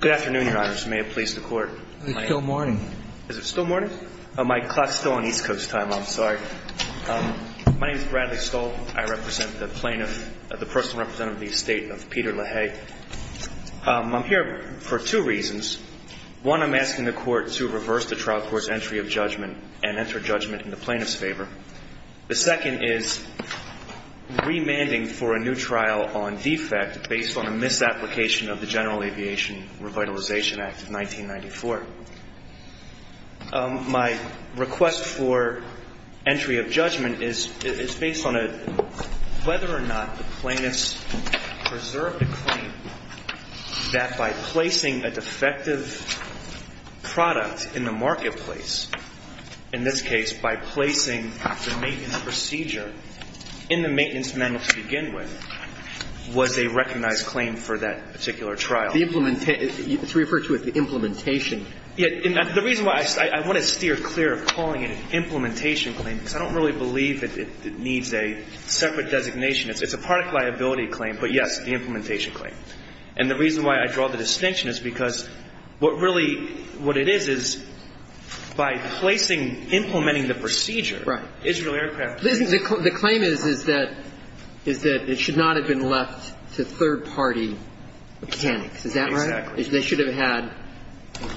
Good afternoon, Your Honors. May it please the Court. It's still morning. Is it still morning? My clock is still on East Coast time. I'm sorry. My name is Bradley Stull. I represent the plaintiff, the personal representative of the estate of Peter LaHaye. I'm here for two reasons. One, I'm asking the Court to reverse the trial court's entry of judgment and enter judgment in the plaintiff's favor. The second is remanding for a new trial on defect based on a misapplication of the General Aviation Revitalization Act of 1994. My request for entry of judgment is based on whether or not the plaintiff's preserved a claim that by placing a defective product in the marketplace, in this case by placing the maintenance procedure in the maintenance manual to begin with, was a recognized claim for that particular trial. The claim is that it should not have been left to third-party mechanics. It should not have been left to third-party mechanics. And the reason why I'm asking this is because I don't believe it's a separate designation. It's a product liability claim, but, yes, the implementation claim. And the reason why I draw the distinction is because what really, what it is, is by placing, implementing the procedure, Israel Aircraft. The claim is that it should not have been left to third-party mechanics. Is that right? Exactly. They should have had,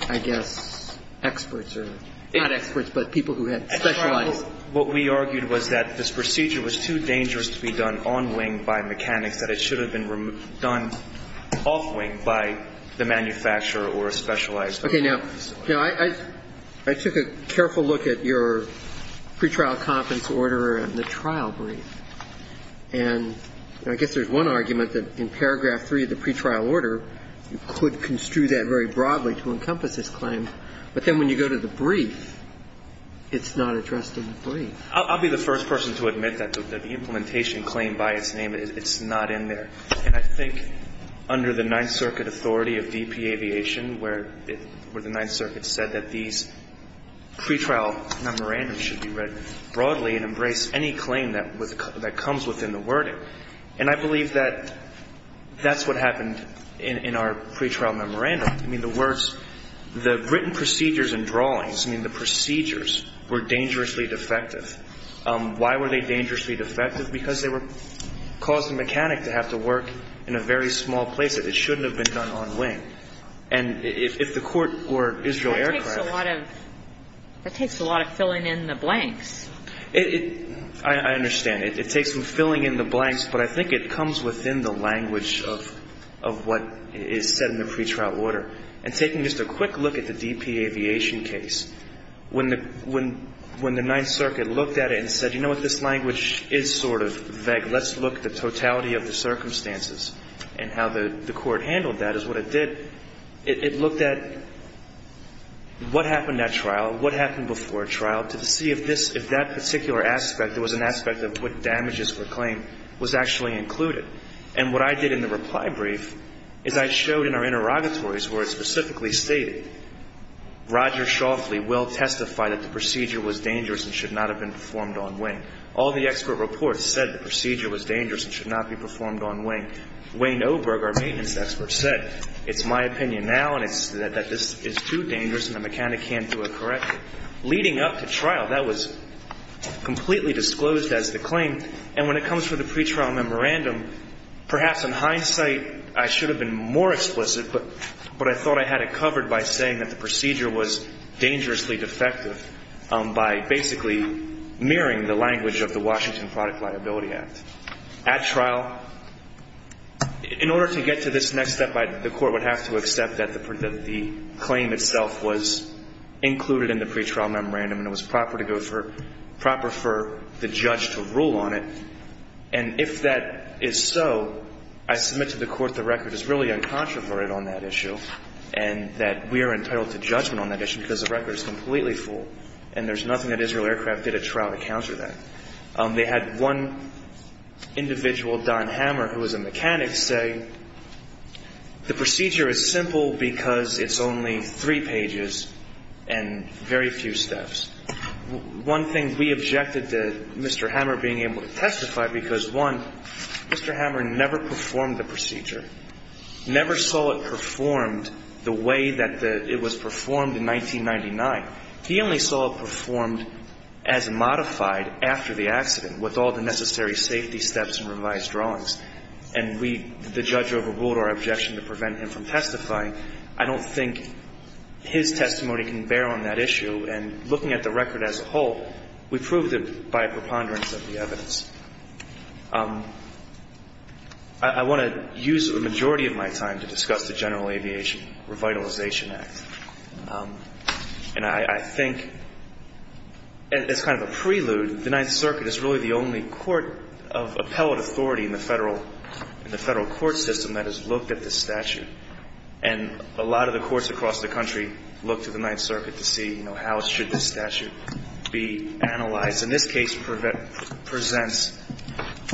I guess, experts or not experts, but people who had specialized. What we argued was that this procedure was too dangerous to be done on wing by mechanics, that it should have been done off wing by the manufacturer or a specialized facility. Okay. Now, I took a careful look at your pretrial conference order and the trial brief. And I guess there's one argument that in paragraph 3 of the pretrial order, you could construe that very broadly to encompass this claim. But then when you go to the brief, it's not addressed in the brief. I'll be the first person to admit that the implementation claim by its name, it's not in there. And I think under the Ninth Circuit authority of DP Aviation, where the Ninth Circuit said that these pretrial memorandums should be read broadly and embrace any claim that comes within the wording. And I believe that that's what happened in our pretrial memorandum. I mean, the words, the written procedures and drawings, I mean, the procedures were dangerously defective. Why were they dangerously defective? Because they caused the mechanic to have to work in a very small place, that it shouldn't have been done on wing. And if the court were Israel Aircraft. That takes a lot of filling in the blanks. I understand. It takes some filling in the blanks. But I think it comes within the language of what is said in the pretrial order. And taking just a quick look at the DP Aviation case. When the Ninth Circuit looked at it and said, you know what, this language is sort of vague. Let's look at the totality of the circumstances. And how the court handled that is what it did. It looked at what happened at trial, what happened before trial, to see if that particular aspect, if there was an aspect of what damages were claimed, was actually included. And what I did in the reply brief is I showed in our interrogatories where it specifically stated, Roger Shoffley will testify that the procedure was dangerous and should not have been performed on wing. All the expert reports said the procedure was dangerous and should not be performed on wing. Wayne Oberg, our maintenance expert, said, it's my opinion now that this is too dangerous and the mechanic can't do it correctly. Leading up to trial, that was completely disclosed as the claim. And when it comes to the pretrial memorandum, perhaps in hindsight I should have been more explicit. But I thought I had it covered by saying that the procedure was dangerously defective by basically mirroring the language of the Washington Product Liability Act. At trial, in order to get to this next step, the court would have to accept that the claim itself was included in the pretrial memorandum and it was proper for the judge to rule on it. And if that is so, I submit to the court the record is really uncontroverted on that issue and that we are entitled to judgment on that issue because the record is completely full and there's nothing that Israel Aircraft did at trial to counter that. They had one individual, Don Hammer, who was a mechanic, say the procedure is simple because it's only three pages and very few steps. One thing we objected to Mr. Hammer being able to testify because, one, Mr. Hammer never performed the procedure, never saw it performed the way that it was performed in 1999. He only saw it performed as modified after the accident with all the necessary safety steps and revised drawings. And we, the judge overruled our objection to prevent him from testifying. I don't think his testimony can bear on that issue. And looking at the record as a whole, we proved it by preponderance of the evidence. I want to use the majority of my time to discuss the General Aviation Revitalization Act. And I think as kind of a prelude, the Ninth Circuit is really the only court of appellate authority in the federal court system that has looked at this statute. And a lot of the courts across the country look to the Ninth Circuit to see, you know, how should this statute be analyzed. And this case presents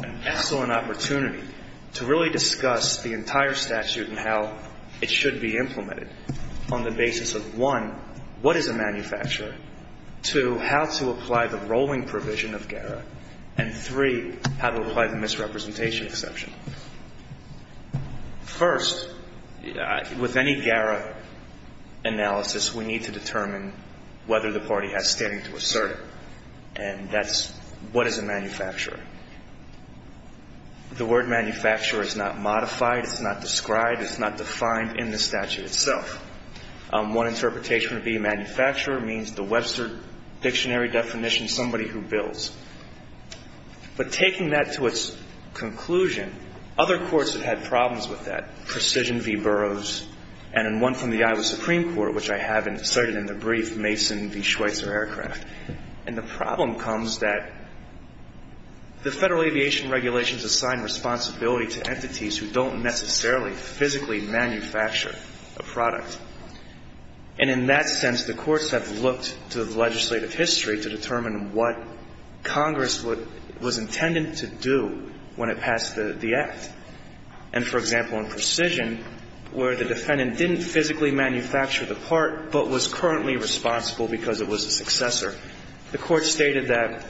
an excellent opportunity to really discuss the entire statute and how it should be implemented on the basis of, one, what is a manufacturer, two, how to apply the rolling provision of GARA, and three, how to apply the misrepresentation exception. First, with any GARA analysis, we need to determine whether the party has standing to assert it. And that's what is a manufacturer. The word manufacturer is not modified. It's not described. It's not defined in the statute itself. One interpretation would be manufacturer means the Webster dictionary definition, somebody who builds. But taking that to its conclusion, other courts have had problems with that, Precision v. Burroughs and in one from the Iowa Supreme Court, which I have cited in the brief, Mason v. Schweitzer Aircraft. And the problem comes that the federal aviation regulations assign responsibility to entities who don't necessarily physically manufacture a product. And in that sense, the courts have looked to the legislative history to determine what Congress was intended to do when it passed the act. And, for example, in Precision, where the defendant didn't physically manufacture the part but was currently responsible because it was a successor, the Court stated that,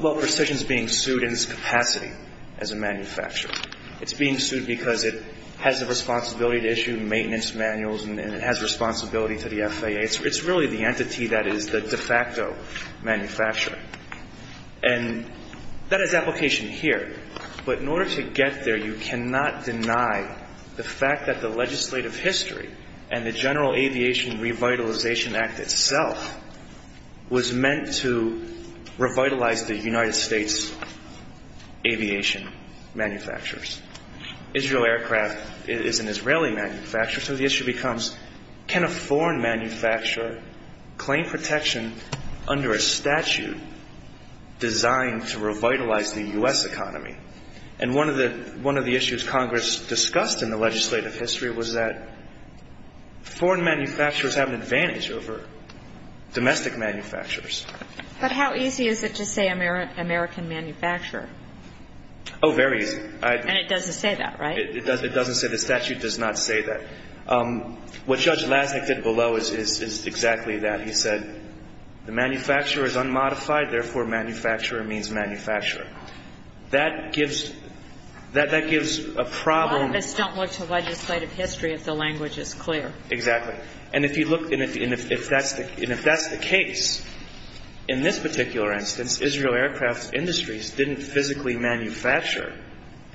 well, Precision is being sued in its capacity as a manufacturer. It's being sued because it has a responsibility to issue maintenance manuals and it has responsibility to the FAA. It's really the entity that is the de facto manufacturer. And that has application here. But in order to get there, you cannot deny the fact that the legislative history and the General Aviation Revitalization Act itself was meant to revitalize the United States aviation manufacturers. Israel Aircraft is an Israeli manufacturer. So the issue becomes, can a foreign manufacturer claim protection under a statute designed to revitalize the U.S. economy? And one of the issues Congress discussed in the legislative history was that foreign manufacturers have an advantage over domestic manufacturers. But how easy is it to say American manufacturer? Oh, very easy. And it doesn't say that, right? It doesn't say. The statute does not say that. What Judge Lazik did below is exactly that. He said the manufacturer is unmodified, therefore, manufacturer means manufacturer. That gives a problem. A lot of us don't look to legislative history if the language is clear. Exactly. And if you look and if that's the case, in this particular instance, Israel Aircraft Industries didn't physically manufacture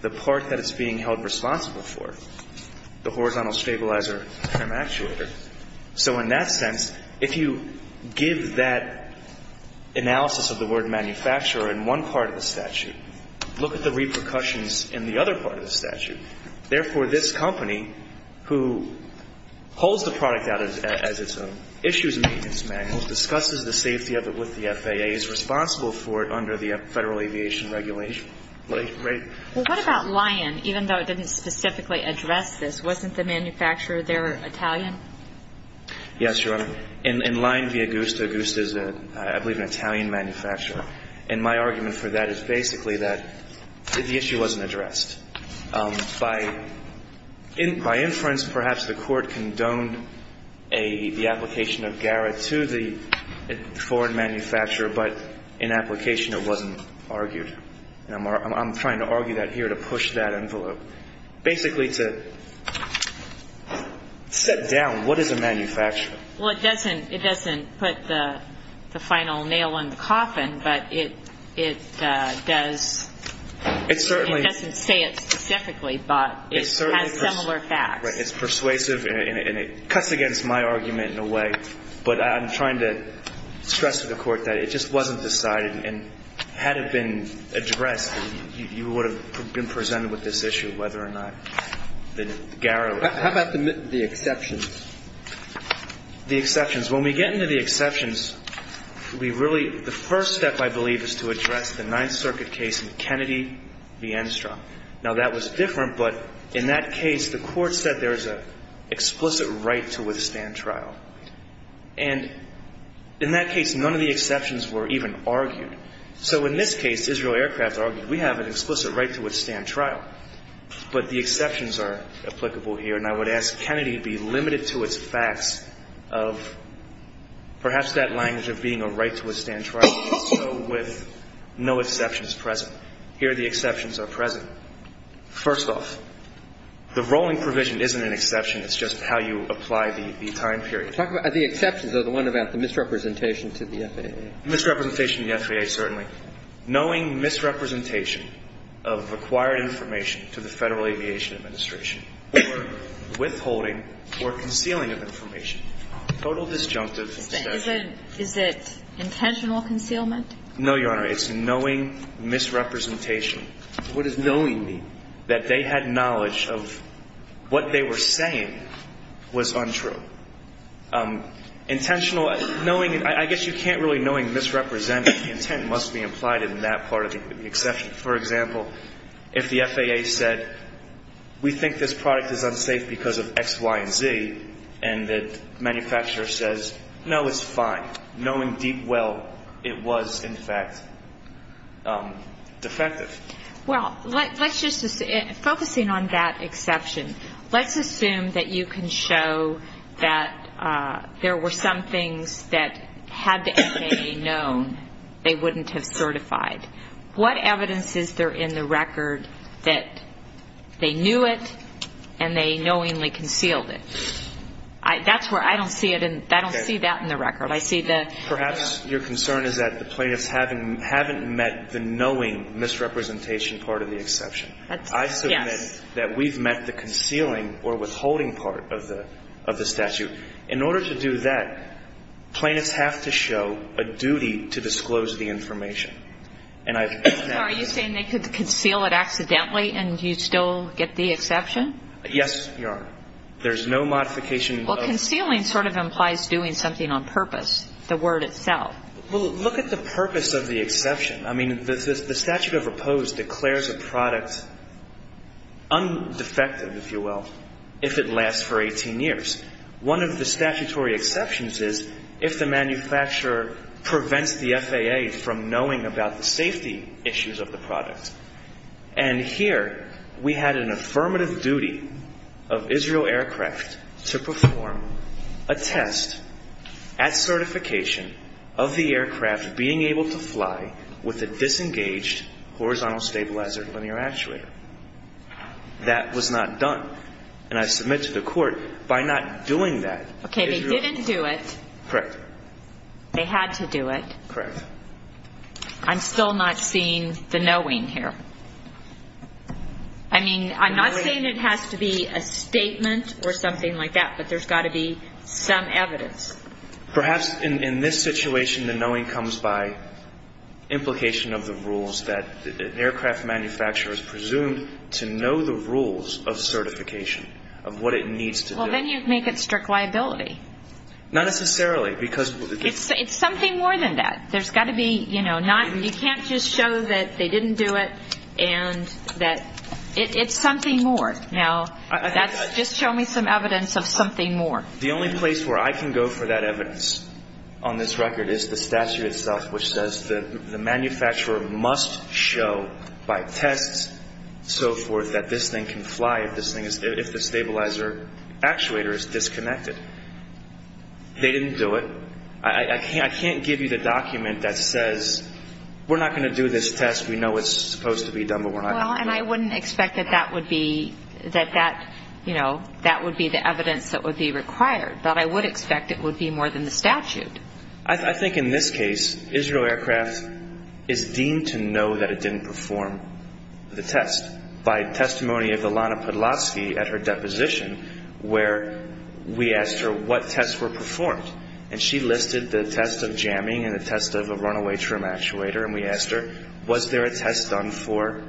the part that it's being held responsible for, the horizontal stabilizer trim actuator. So in that sense, if you give that analysis of the word manufacturer in one part of the statute, look at the repercussions in the other part of the statute. Therefore, this company, who pulls the product out as its own, issues a maintenance manual, discusses the safety of it with the FAA, is responsible for it under the Federal Aviation Regulation. Well, what about Lion? Even though it didn't specifically address this, wasn't the manufacturer there Italian? Yes, Your Honor. In Lion v. Augusta, Augusta is, I believe, an Italian manufacturer. And my argument for that is basically that the issue wasn't addressed. By inference, perhaps the Court condoned the application of GARA to the foreign manufacturer, but in application it wasn't argued. And I'm trying to argue that here to push that envelope. Basically to set down what is a manufacturer. Well, it doesn't put the final nail in the coffin, but it does. It doesn't say it specifically, but it has similar facts. It's persuasive, and it cuts against my argument in a way. But I'm trying to stress to the Court that it just wasn't decided. And had it been addressed, you would have been presented with this issue, whether or not the GARA was. How about the exceptions? The exceptions. When we get into the exceptions, we really the first step, I believe, is to address the Ninth Circuit case in Kennedy v. Enstrom. Now, that was different, but in that case, the Court said there is an explicit right to withstand trial. And in that case, none of the exceptions were even argued. So in this case, Israel Aircrafts argued we have an explicit right to withstand trial, but the exceptions are applicable here. And I would ask Kennedy to be limited to its facts of perhaps that language of being a right to withstand trial. So with no exceptions present. Here the exceptions are present. First off, the rolling provision isn't an exception. It's just how you apply the time period. The exceptions are the one about the misrepresentation to the FAA. Misrepresentation to the FAA, certainly. Knowing misrepresentation of acquired information to the Federal Aviation Administration for withholding or concealing of information, total disjunctive exception. Is it intentional concealment? No, Your Honor. It's knowing misrepresentation. What does knowing mean? That they had knowledge of what they were saying was untrue. Intentional, knowing, I guess you can't really knowing misrepresentation. The intent must be implied in that part of the exception. For example, if the FAA said we think this product is unsafe because of X, Y, and Z, and the manufacturer says, no, it's fine. Knowing deep well it was, in fact, defective. Well, focusing on that exception, let's assume that you can show that there were some things that had the FAA known they wouldn't have certified. What evidence is there in the record that they knew it and they knowingly concealed it? That's where I don't see it. I don't see that in the record. I see the ---- Perhaps your concern is that the plaintiffs haven't met the knowing misrepresentation part of the exception. Yes. I submit that we've met the concealing or withholding part of the statute. In order to do that, plaintiffs have to show a duty to disclose the information. And I've ---- So are you saying they could conceal it accidentally and you'd still get the exception? Yes, Your Honor. There's no modification of ---- Well, concealing sort of implies doing something on purpose, the word itself. Well, look at the purpose of the exception. I mean, the statute of repose declares a product undefective, if you will, if it lasts for 18 years. One of the statutory exceptions is if the manufacturer prevents the FAA from knowing about the safety issues of the product. And here we had an affirmative duty of Israel Aircraft to perform a test at certification of the aircraft being able to fly with a disengaged horizontal stabilizer linear actuator. That was not done. And I submit to the Court, by not doing that, Israel Aircraft ---- Okay. They didn't do it. Correct. They had to do it. Correct. I'm still not seeing the knowing here. I mean, I'm not saying it has to be a statement or something like that, but there's got to be some evidence. Perhaps in this situation the knowing comes by implication of the rules that an aircraft manufacturer is presumed to know the rules of certification, of what it needs to do. Well, then you'd make it strict liability. Not necessarily, because ---- It's something more than that. There's got to be, you know, not ---- You can't just show that they didn't do it and that ---- It's something more. Now, that's ---- Just show me some evidence of something more. The only place where I can go for that evidence on this record is the statute itself, which says that the manufacturer must show by tests, so forth, that this thing can fly if the stabilizer actuator is disconnected. They didn't do it. I can't give you the document that says, we're not going to do this test. We know it's supposed to be done, but we're not going to do it. Well, and I wouldn't expect that that would be the evidence that would be required. But I would expect it would be more than the statute. I think in this case, Israel Aircrafts is deemed to know that it didn't perform the test by testimony of Ilana Podlatsky at her deposition, where we asked her what tests were performed. And she listed the test of jamming and the test of a runaway trim actuator. And we asked her, was there a test done for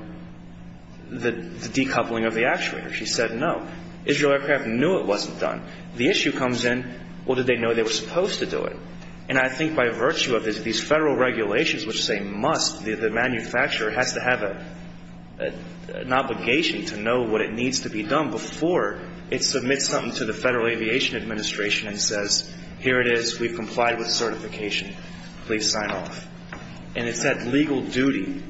the decoupling of the actuator? She said no. Israel Aircrafts knew it wasn't done. The issue comes in, well, did they know they were supposed to do it? And I think by virtue of these Federal regulations which say must, the manufacturer has to have an obligation to know what it needs to be done before it submits something to the Federal Aviation Administration and says, here it is. We've complied with certification. Please sign off. And it's that legal duty.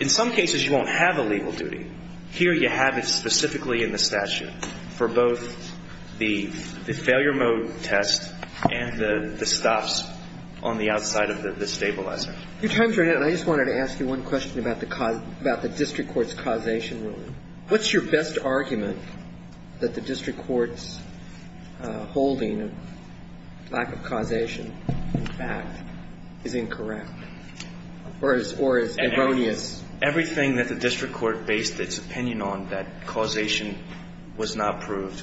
In some cases, you won't have a legal duty. Here you have it specifically in the statute for both the failure mode test and the stops on the outside of the stabilizer. I just wanted to ask you one question about the district court's causation ruling. What's your best argument that the district court's holding of lack of causation, in fact, is incorrect or is erroneous? Everything that the district court based its opinion on that causation was not proved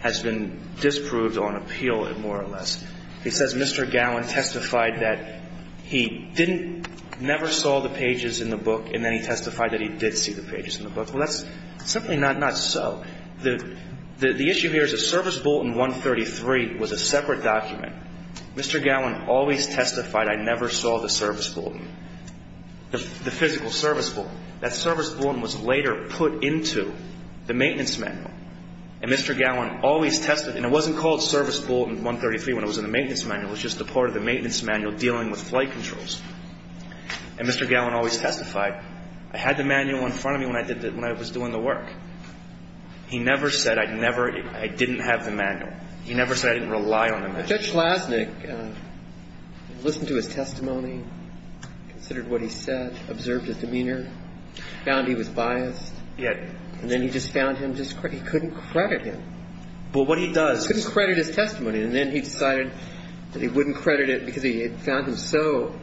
has been disproved on appeal, more or less. They've got a list of pages. It says Mr. Gowan testified that he didn't ñ he never saw the pages in the book and then he testified that he did see the pages in the book. Well, that's simply not so. The issue here is that Service Bulletin 133 was a separate document. Mr. Gowan always testified I never saw the Service Bulletin, the physical Service Bulletin. That Service Bulletin was later put into the maintenance manual. And Mr. Gowan always testified ñ and it wasn't called Service Bulletin 133 when it was in the maintenance manual. It was just a part of the maintenance manual dealing with flight controls. And Mr. Gowan always testified I had the manual in front of me when I did the ñ when I was doing the work. He never said I never ñ I didn't have the manual. He never said I didn't rely on the manual. Now, Judge Schlaznik listened to his testimony, considered what he said, observed his demeanor, found he was biased. Yes. And then he just found him ñ he couldn't credit him. But what he does is ñ He couldn't credit his testimony. And then he decided that he wouldn't credit it because he found him so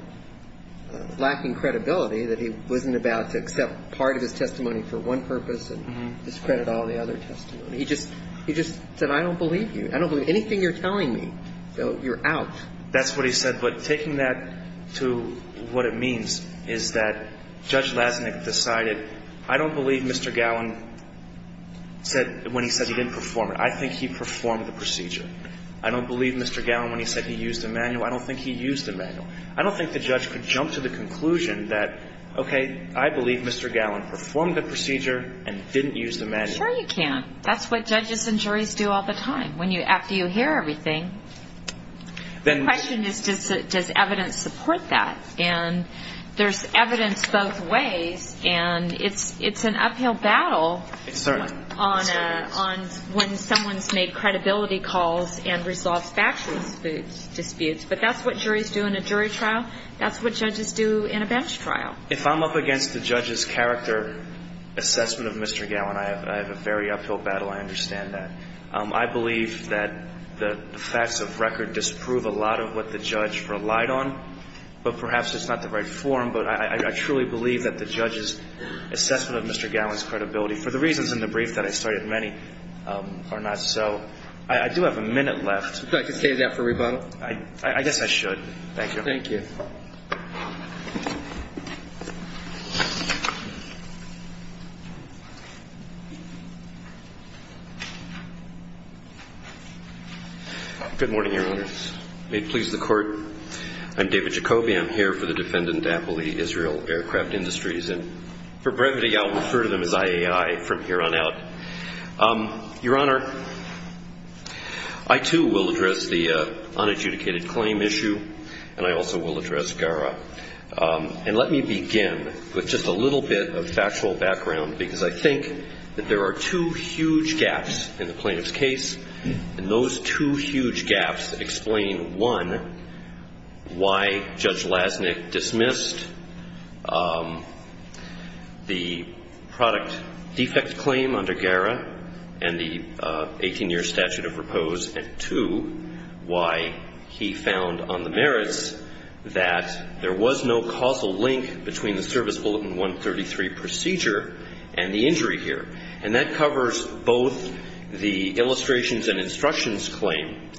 lacking credibility that he wasn't about to accept part of his testimony for one purpose and discredit all the other testimony. He just ñ he just said I don't believe you. I don't believe anything you're telling me. You're out. That's what he said. But taking that to what it means is that Judge Schlaznik decided I don't believe Mr. Gowan said ñ when he said he didn't perform it. I think he performed the procedure. I don't believe Mr. Gowan when he said he used the manual. I don't think he used the manual. I don't think the judge could jump to the conclusion that, okay, I believe Mr. Gowan performed the procedure and didn't use the manual. Sure you can. That's what judges and juries do all the time. When you ñ after you hear everything, the question is does evidence support that? And there's evidence both ways. And it's an uphill battle on when someone's made credibility calls and resolved factual disputes. But that's what juries do in a jury trial. That's what judges do in a bench trial. If I'm up against the judge's character assessment of Mr. Gowan, I have a very uphill battle. I understand that. I believe that the facts of record disprove a lot of what the judge relied on. But perhaps it's not the right form. But I truly believe that the judge's assessment of Mr. Gowan's credibility, for the reasons in the brief that I started, many are not so. I do have a minute left. Would you like to save that for rebuttal? I guess I should. Thank you. Thank you. Thank you. Good morning, Your Honor. May it please the Court. I'm David Jacoby. I'm here for the defendant, Appley, Israel Aircraft Industries. And for brevity, I'll refer to them as IAI from here on out. Your Honor, I, too, will address the unadjudicated claim issue, and I also will address Gara. And let me begin with just a little bit of factual background, because I think that there are two huge gaps in the plaintiff's case. And those two huge gaps explain, one, why Judge Lasnik dismissed the product defect claim under Gara and the 18-year statute of repose, and, two, why he found on the merits that there was no causal link between the Service Bulletin 133 procedure and the injury here. And that covers both the illustrations and instructions claim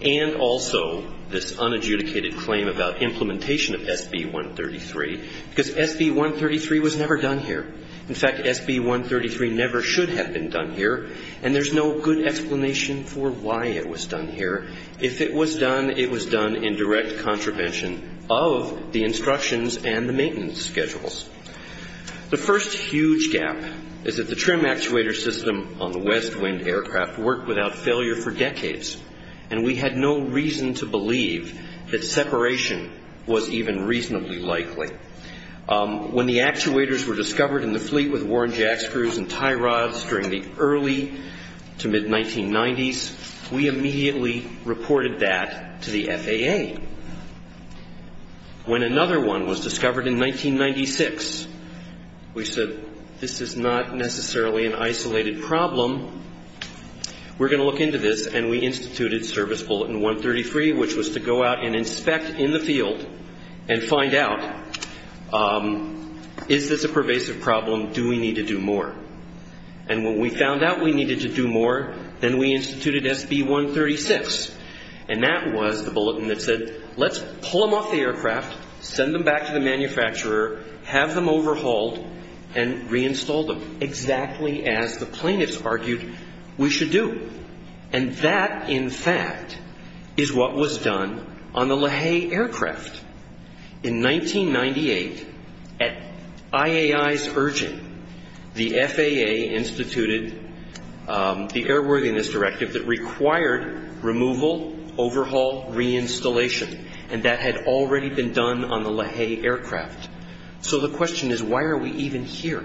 and also this unadjudicated claim about implementation of SB 133, because SB 133 was never done here. In fact, SB 133 never should have been done here, and there's no good explanation for why it was done here. If it was done, it was done in direct contravention of the instructions and the maintenance schedules. The first huge gap is that the trim actuator system on the West Wind aircraft worked without failure for decades, and we had no reason to believe that separation was even reasonably likely. When the actuators were discovered in the fleet with Warren jack screws and tie rods during the early to mid-1990s, we immediately reported that to the FAA. When another one was discovered in 1996, we said, this is not necessarily an isolated problem. We're going to look into this, and we instituted Service Bulletin 133, which was to go out and inspect in the field and find out, is this a pervasive problem, do we need to do more? And when we found out we needed to do more, then we instituted SB 136, and that was the bulletin that said, let's pull them off the aircraft, send them back to the manufacturer, have them overhauled, and reinstall them, exactly as the plaintiffs argued we should do. And that, in fact, is what was done on the LaHaye aircraft. In 1998, at IAI's urging, the FAA instituted the Airworthiness Directive that required removal, overhaul, reinstallation, and that had already been done on the LaHaye aircraft. So the question is, why are we even here?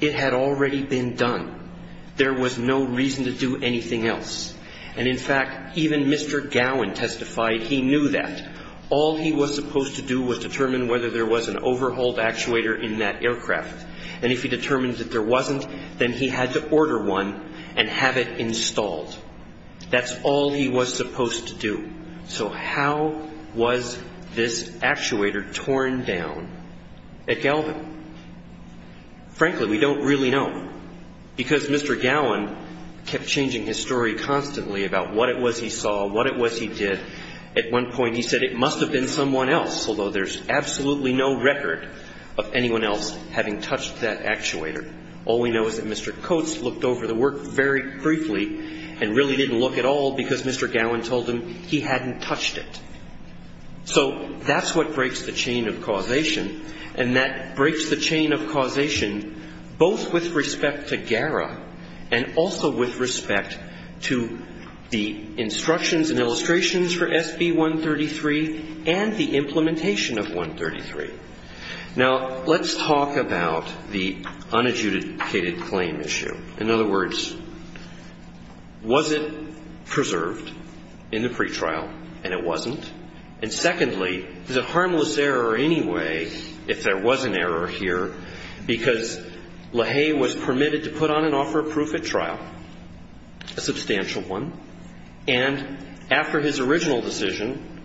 It had already been done. There was no reason to do anything else. And, in fact, even Mr. Gowan testified he knew that. All he was supposed to do was determine whether there was an overhauled actuator in that aircraft. And if he determined that there wasn't, then he had to order one and have it installed. That's all he was supposed to do. So how was this actuator torn down at Galvin? Frankly, we don't really know. Because Mr. Gowan kept changing his story constantly about what it was he saw, what it was he did. At one point, he said it must have been someone else, although there's absolutely no record of anyone else having touched that actuator. All we know is that Mr. Coates looked over the work very briefly and really didn't look at all because Mr. Gowan told him he hadn't touched it. So that's what breaks the chain of causation. And that breaks the chain of causation both with respect to GARA and also with respect to the instructions and illustrations for SB 133 and the implementation of 133. Now, let's talk about the unadjudicated claim issue. In other words, was it preserved in the pretrial, and it wasn't? And, secondly, is it harmless error in any way to the plaintiff? Well, the point is, if there was an error here, because LaHaye was permitted to put on and offer proof at trial, a substantial one, and after his original decision,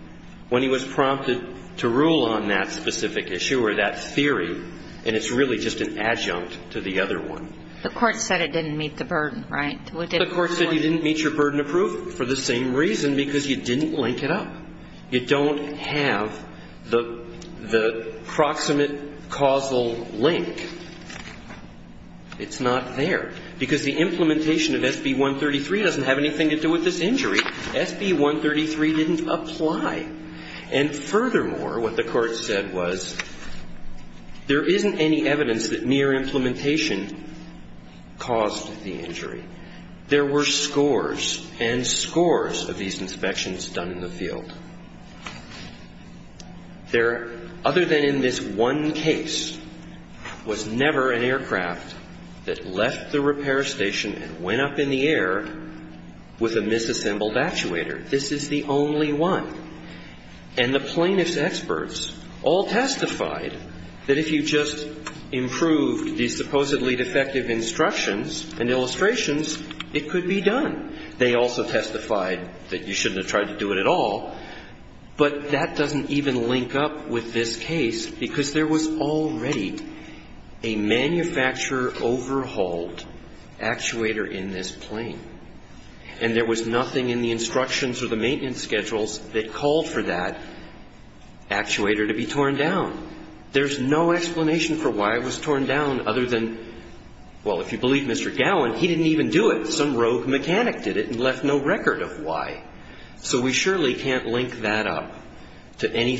when he was prompted to rule on that specific issue or that theory, and it's really just an adjunct to the other one. The court said it didn't meet the burden, right? The court said you didn't meet your burden of proof for the same reason, because you didn't link it up. You don't have the process of linking up the two. And the proximate causal link, it's not there, because the implementation of SB 133 doesn't have anything to do with this injury. SB 133 didn't apply. And furthermore, what the court said was there isn't any evidence that near implementation caused the injury. There were scores and scores of these inspections done in the field. There, other than in this one case, was never an aircraft that left the repair station and went up in the air with a misassembled actuator. This is the only one. And the plaintiff's experts all testified that if you just improved these supposedly defective instructions and illustrations, it could be done. But that doesn't even link up with this case, because there was already a manufacturer overhauled actuator in this plane. And there was nothing in the instructions or the maintenance schedules that called for that actuator to be torn down. There's no explanation for why it was torn down, other than, well, if you believe Mr. Gowin, he didn't even do it. Some rogue mechanic did it and left no record of why. So we surely can't link up the two. And when the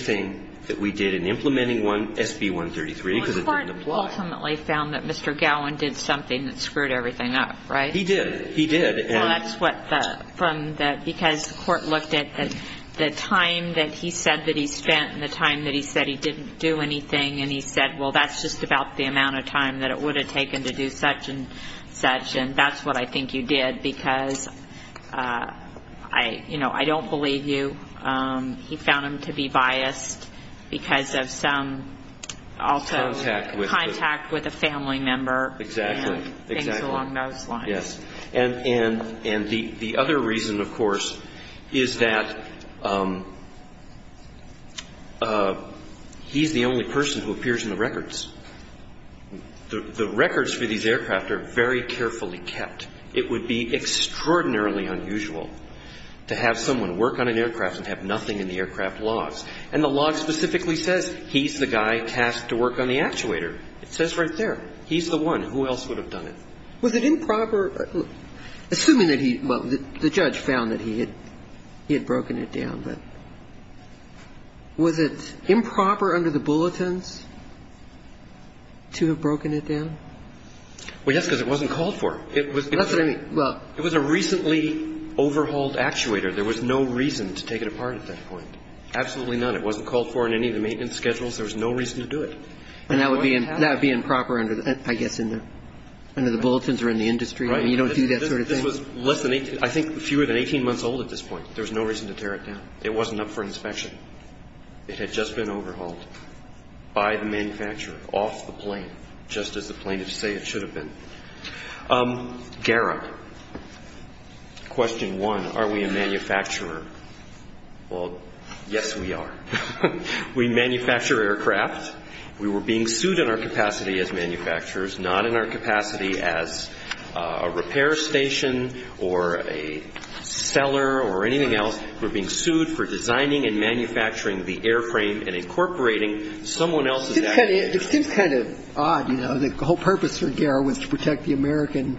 court ultimately found that Mr. Gowin did something that screwed everything up, right? He did. He did. Well, that's what the ‑‑ from the ‑‑ because the court looked at the time that he said that he spent and the time that he said he didn't do anything, and he said, well, that's just about the amount of time that it would have taken to do such and such, and that's what I think you did, because, you know, I don't believe you. I'm not going to argue with you. He found him to be biased because of some also contact with a family member. Exactly. And things along those lines. Yes. And the other reason, of course, is that he's the only person who appears in the records. The records for these aircraft are very carefully kept. It would be extraordinarily unusual to have someone work on an aircraft and have nothing in the aircraft logs. And the log specifically says he's the guy tasked to work on the actuator. It says right there. He's the one. Who else would have done it? Was it improper ‑‑ assuming that he ‑‑ well, the judge found that he had broken it down, but was it improper under the bulletins to have broken it down? Well, yes, because it wasn't called for. It was a recently overhauled actuator. There was no reason to take it apart at that point. Absolutely none. It wasn't called for in any of the maintenance schedules. There was no reason to do it. And that would be improper, I guess, under the bulletins or in the industry. Right. I mean, you don't do that sort of thing. This was less than 18 ‑‑ I think fewer than 18 months old at this point. There was no reason to tear it down. It wasn't up for inspection. It had just been overhauled by the manufacturer off the plane, just as the plaintiffs say it should have been. Garrett, question one, are we a manufacturer? Well, yes, we are. We manufacture aircraft. We were being sued in our capacity as manufacturers, not in our capacity as a repair station or a seller or anything else. We were being sued for designing and manufacturing the airframe and incorporating someone else's actuators. It seems kind of odd, you know, the whole purpose for Garrett was to protect the American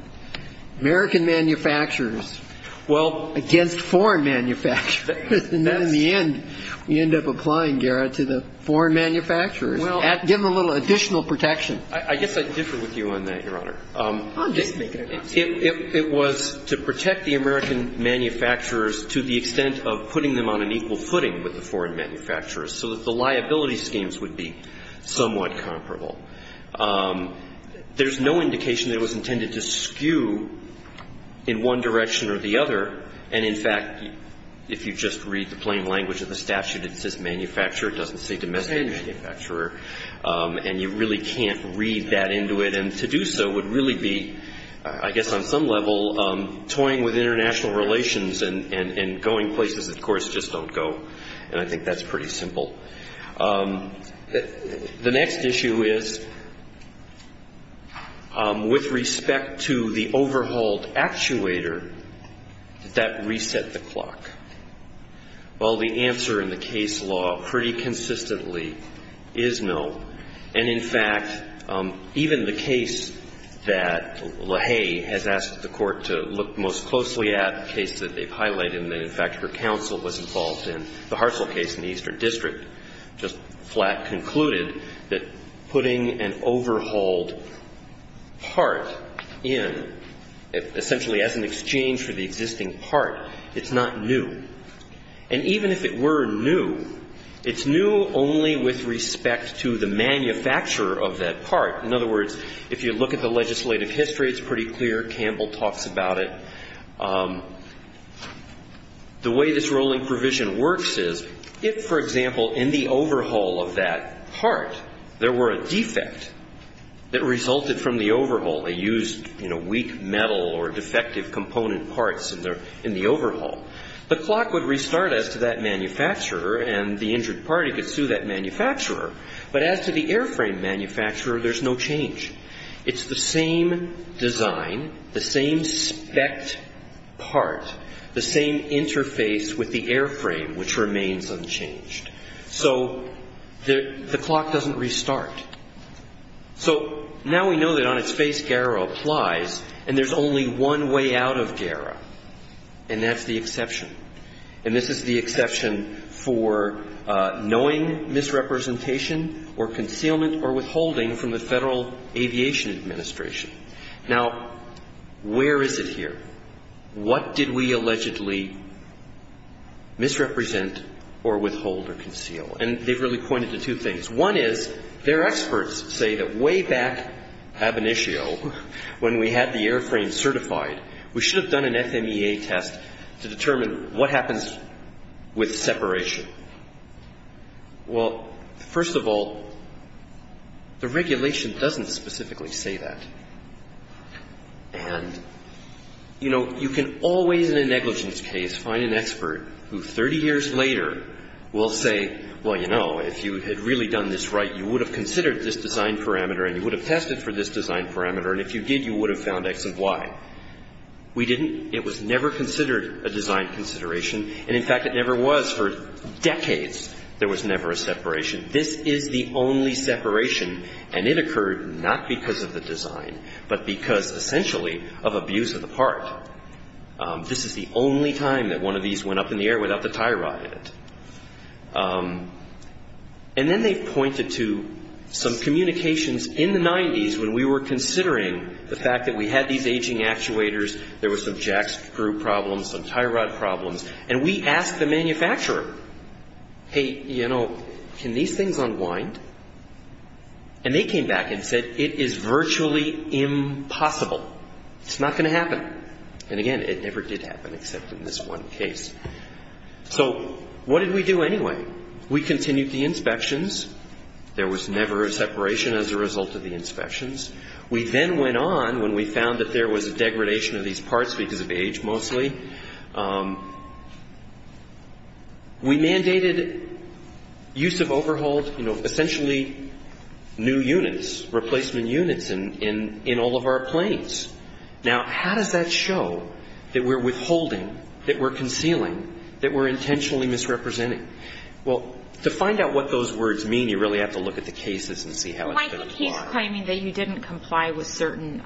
manufacturers against foreign manufacturers. And then in the end, we end up applying Garrett to the foreign manufacturers, give them a little additional protection. I guess I differ with you on that, Your Honor. I'm just making it up. It was to protect the American manufacturers to the extent of putting them on an equal footing with the foreign manufacturers, so that the liability schemes would be somewhat comparable. There's no indication that it was intended to skew in one direction or the other. And, in fact, if you just read the plain language of the statute, it says manufacturer. It doesn't say domestic manufacturer. And you really can't read that into it. And to do so would really be, I guess on some level, toying with international relations and going places that, of course, just don't go. And I think that's pretty simple. The next issue is with respect to the overhauled actuator, did that reset the clock? Well, the answer in the case law pretty consistently is no. And, in fact, even the case that LaHaye has asked the Court to look most closely at, a case that they've highlighted and that, in fact, her counsel was involved in, the Hartzell case in the Eastern District, just flat concluded that putting an overhauled part in, essentially as an exchange for the existing part, it's not new. And even if it were new, it's new only with respect to the manufacturer of that part. In other words, if you look at the legislative history, it's pretty clear. Campbell talks about it. The way this rolling provision works is if, for example, in the overhaul of that part, there were a defect that resulted from the overhaul. They used, you know, weak metal or defective component parts in the overhaul. The clock would restart as to that manufacturer, and the injured party could sue that manufacturer. But as to the airframe manufacturer, there's no change. It's the same design, the same specced part, the same interface with the airframe, which remains unchanged. So the clock doesn't restart. So now we know that on its face, GARA applies, and there's only one way out of GARA, and that's the exception. And this is the exception for knowing misrepresentation or concealment or withholding from the Federal Aviation Administration. Now, where is it here? What did we allegedly misrepresent or withhold or conceal? And they've really pointed to two things. One is, their experts say that way back ab initio, when we had the airframe certified, we should have done an FMEA test to determine what happened to the airframe. What happens with separation? Well, first of all, the regulation doesn't specifically say that. And, you know, you can always, in a negligence case, find an expert who 30 years later will say, well, you know, if you had really done this right, you would have considered this design parameter, and you would have tested for this design parameter, and if you did, you would have found X and Y. We didn't. It was never considered a design consideration. And, in fact, it never was. For decades, there was never a separation. This is the only separation, and it occurred not because of the design, but because, essentially, of abuse of the part. This is the only time that one of these went up in the air without the tie rod in it. And then they've pointed to some communications in the 90s when we were considering the fact that we had these aging actuators, there were some generations of them. There were some jack screw problems, some tie rod problems, and we asked the manufacturer, hey, you know, can these things unwind? And they came back and said, it is virtually impossible. It's not going to happen. And, again, it never did happen except in this one case. So what did we do anyway? We continued the inspections. There was never a separation as a result of the inspections. We then went on, when we found that there was a degradation of these parts because of age mostly, we mandated use of overhauled, you know, essentially new units, replacement units in all of our planes. Now, how does that show that we're withholding, that we're concealing, that we're intentionally misrepresenting? Well, to find out what those words mean, you really have to look at the cases and see how it's been applied. Well, I think he's claiming that you didn't comply with certain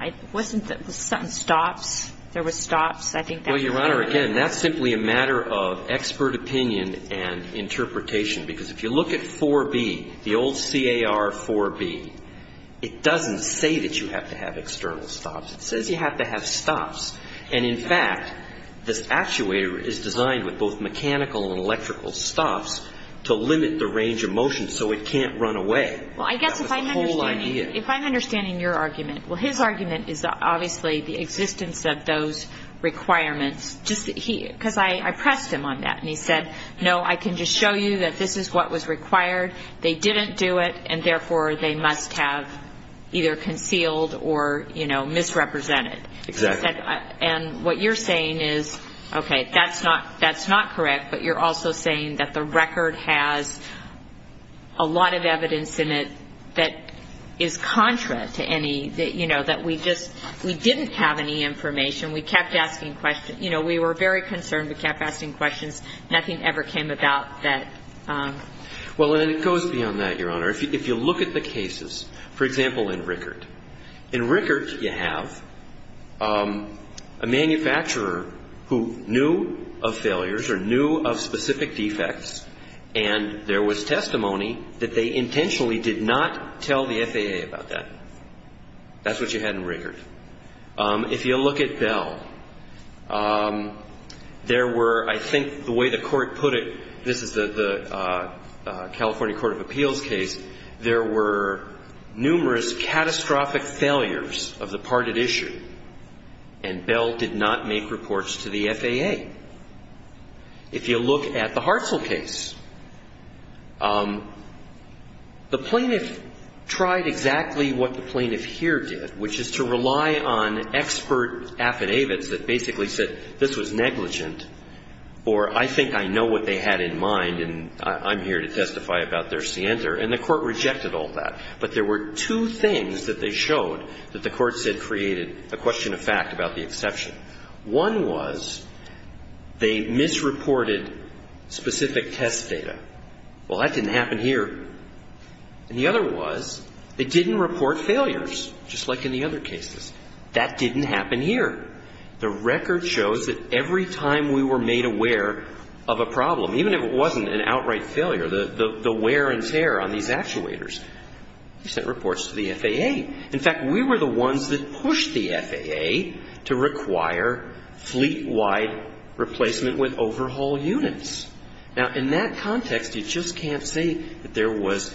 stops. There were stops. I think that's fair. Well, Your Honor, again, that's simply a matter of expert opinion and interpretation. Because if you look at 4B, the old CAR 4B, it doesn't say that you have to have external stops. It says you have to have stops. And, in fact, this actuator is designed with both mechanical and electrical stops to limit the range of motion so it can't run away. That was the whole idea. Well, I guess if I'm understanding your argument, well, his argument is obviously the existence of those requirements. Because I pressed him on that, and he said, no, I can just show you that this is what was required, they didn't do it, and, therefore, they must have either concealed or, you know, misrepresented. Exactly. And what you're saying is, okay, that's not correct, but you're also saying that the record has a lot of evidence in it. That is contra to any, you know, that we just, we didn't have any information. We kept asking questions. You know, we were very concerned. We kept asking questions. Nothing ever came about that. Well, and it goes beyond that, Your Honor. If you look at the cases, for example, in Rickert, in Rickert you have a manufacturer who knew of failures or knew of specific defects, and there was testimony that they intentionally did not tell the FAA about that. That's what you had in Rickert. If you look at Bell, there were, I think the way the Court put it, this is the California Court of Appeals case, there were numerous catastrophic failures of the parted issue, and Bell did not make reports to the FAA. If you look at the Hartzell case, the plaintiff tried exactly what the plaintiff here did, which is to rely on expert affidavits that basically said this was negligent, or I think I know what they had in mind and I'm here to testify about their scienter, and the Court rejected all that. But there were two things that they showed that the Court said created a question of fact about the exception. One was they misreported specific test data. Well, that didn't happen here. And the other was they didn't report failures, just like in the other cases. That didn't happen here. The record shows that every time we were made aware of a problem, even if it wasn't an outright failure, the wear and tear on these actuators, we sent reports to the FAA. In fact, we were the ones that pushed the FAA to require fleet-wide replacement with overhaul units. Now, in that context, you just can't say that there was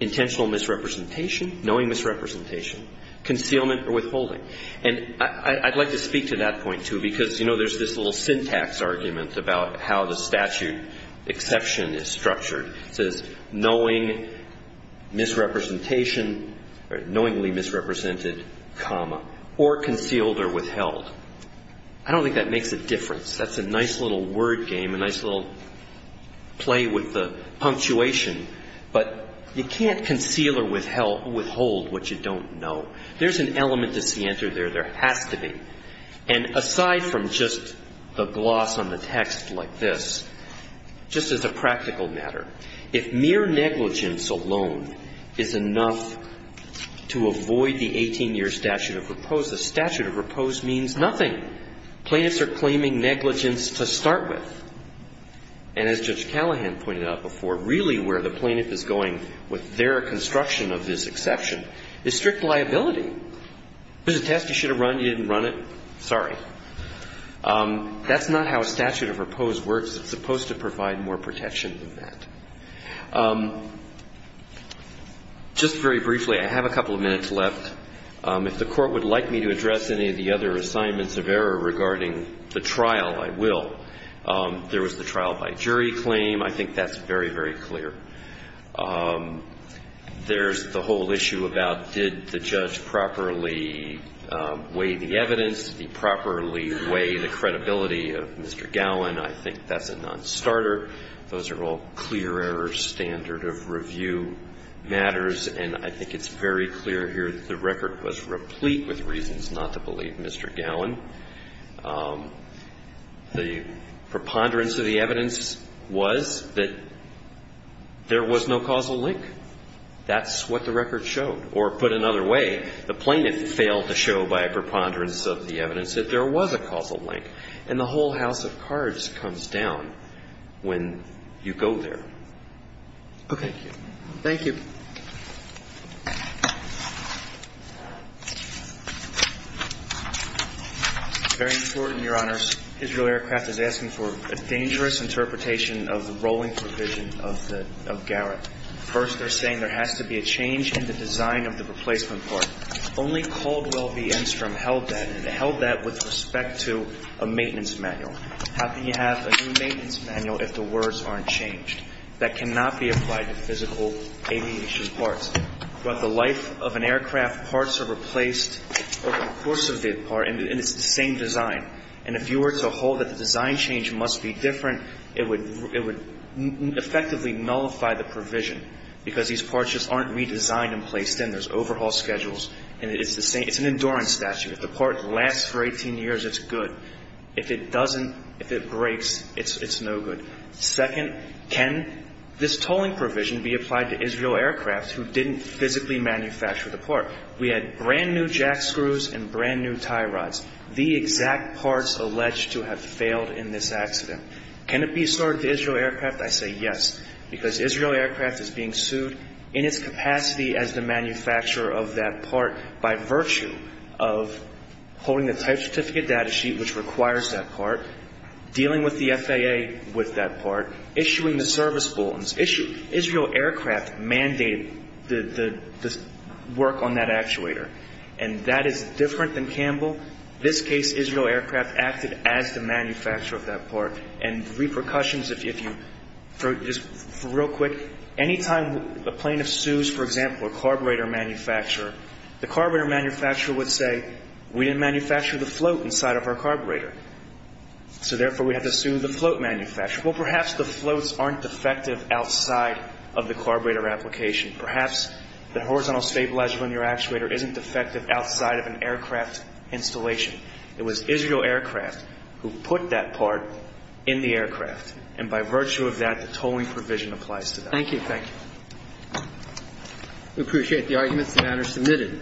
intentional misrepresentation, knowing misrepresentation, concealment, or withholding. And I'd like to speak to that point, too, because, you know, there's this little syntax argument about how the statute exception is structured. It says, knowing misrepresentation or knowingly misrepresented, comma, or concealed or withheld. I don't think that makes a difference. That's a nice little word game, a nice little play with the punctuation. But you can't conceal or withhold what you don't know. There's an element to scienter there. There has to be. And aside from just the gloss on the text like this, just as a practical matter, if mere negligence alone is enough to avoid the 18-year statute of repose, the statute of repose means nothing. Plaintiffs are claiming negligence to start with. And as Judge Callahan pointed out before, really where the plaintiff is going with their construction of this exception is strict liability. There's a test you should have run. You didn't run it. Sorry. That's not how a statute of repose works. It's supposed to provide more protection than that. Just very briefly, I have a couple of minutes left. If the Court would like me to address any of the other assignments of error regarding the trial, I will. There was the trial by jury claim. I think that's very, very clear. There's the whole issue about did the judge properly weigh the evidence? Did he properly weigh the credibility of Mr. Gowan? I think that's a non-starter. Those are all clear error standard of review matters. And I think it's very clear here that the record was replete with reasons not to believe Mr. Gowan. The preponderance of the evidence was that there was no causal link. That's what the record showed. Or put another way, the plaintiff failed to show by a preponderance of the evidence that there was a causal link. And the whole house of cards comes down. When you go there. Okay. Thank you. Very important, Your Honors. Israel Aircraft is asking for a dangerous interpretation of the rolling provision of Garrett. First, they're saying there has to be a change in the design of the replacement part. Only Caldwell v. Enstrom held that. And it held that with respect to a maintenance manual. How can you have a new maintenance manual if the words aren't changed? That cannot be applied to physical aviation parts. Throughout the life of an aircraft, parts are replaced over the course of the part, and it's the same design. And if you were to hold that the design change must be different, it would effectively nullify the provision, because these parts just aren't redesigned and placed in. There's overhaul schedules, and it's the same. It's an endurance statute. If the part lasts for 18 years, it's good. If it doesn't, if it breaks, it's no good. Second, can this tolling provision be applied to Israel Aircraft, who didn't physically manufacture the part? We had brand-new jack screws and brand-new tie rods, the exact parts alleged to have failed in this accident. Can it be stored to Israel Aircraft? I say yes, because Israel Aircraft is being sued in its capacity as the manufacturer of that part by virtue of holding the type certificate data sheet, which requires that part, dealing with the FAA with that part, issuing the service bulletins. Israel Aircraft mandated the work on that actuator, and that is different than Campbell. In this case, Israel Aircraft acted as the manufacturer of that part. And repercussions, if you, just real quick, any time a plaintiff sues, for example, a carburetor manufacturer, the carburetor manufacturer would say, we didn't manufacture the float inside of our carburetor. So therefore, we have to sue the float manufacturer. Well, perhaps the floats aren't defective outside of the carburetor application. Perhaps the horizontal stabilizer on your actuator isn't defective outside of an aircraft installation. It was Israel Aircraft who put that part in the aircraft, and by virtue of that, the tolling provision applies to them. Thank you. We appreciate the arguments. The matter is submitted.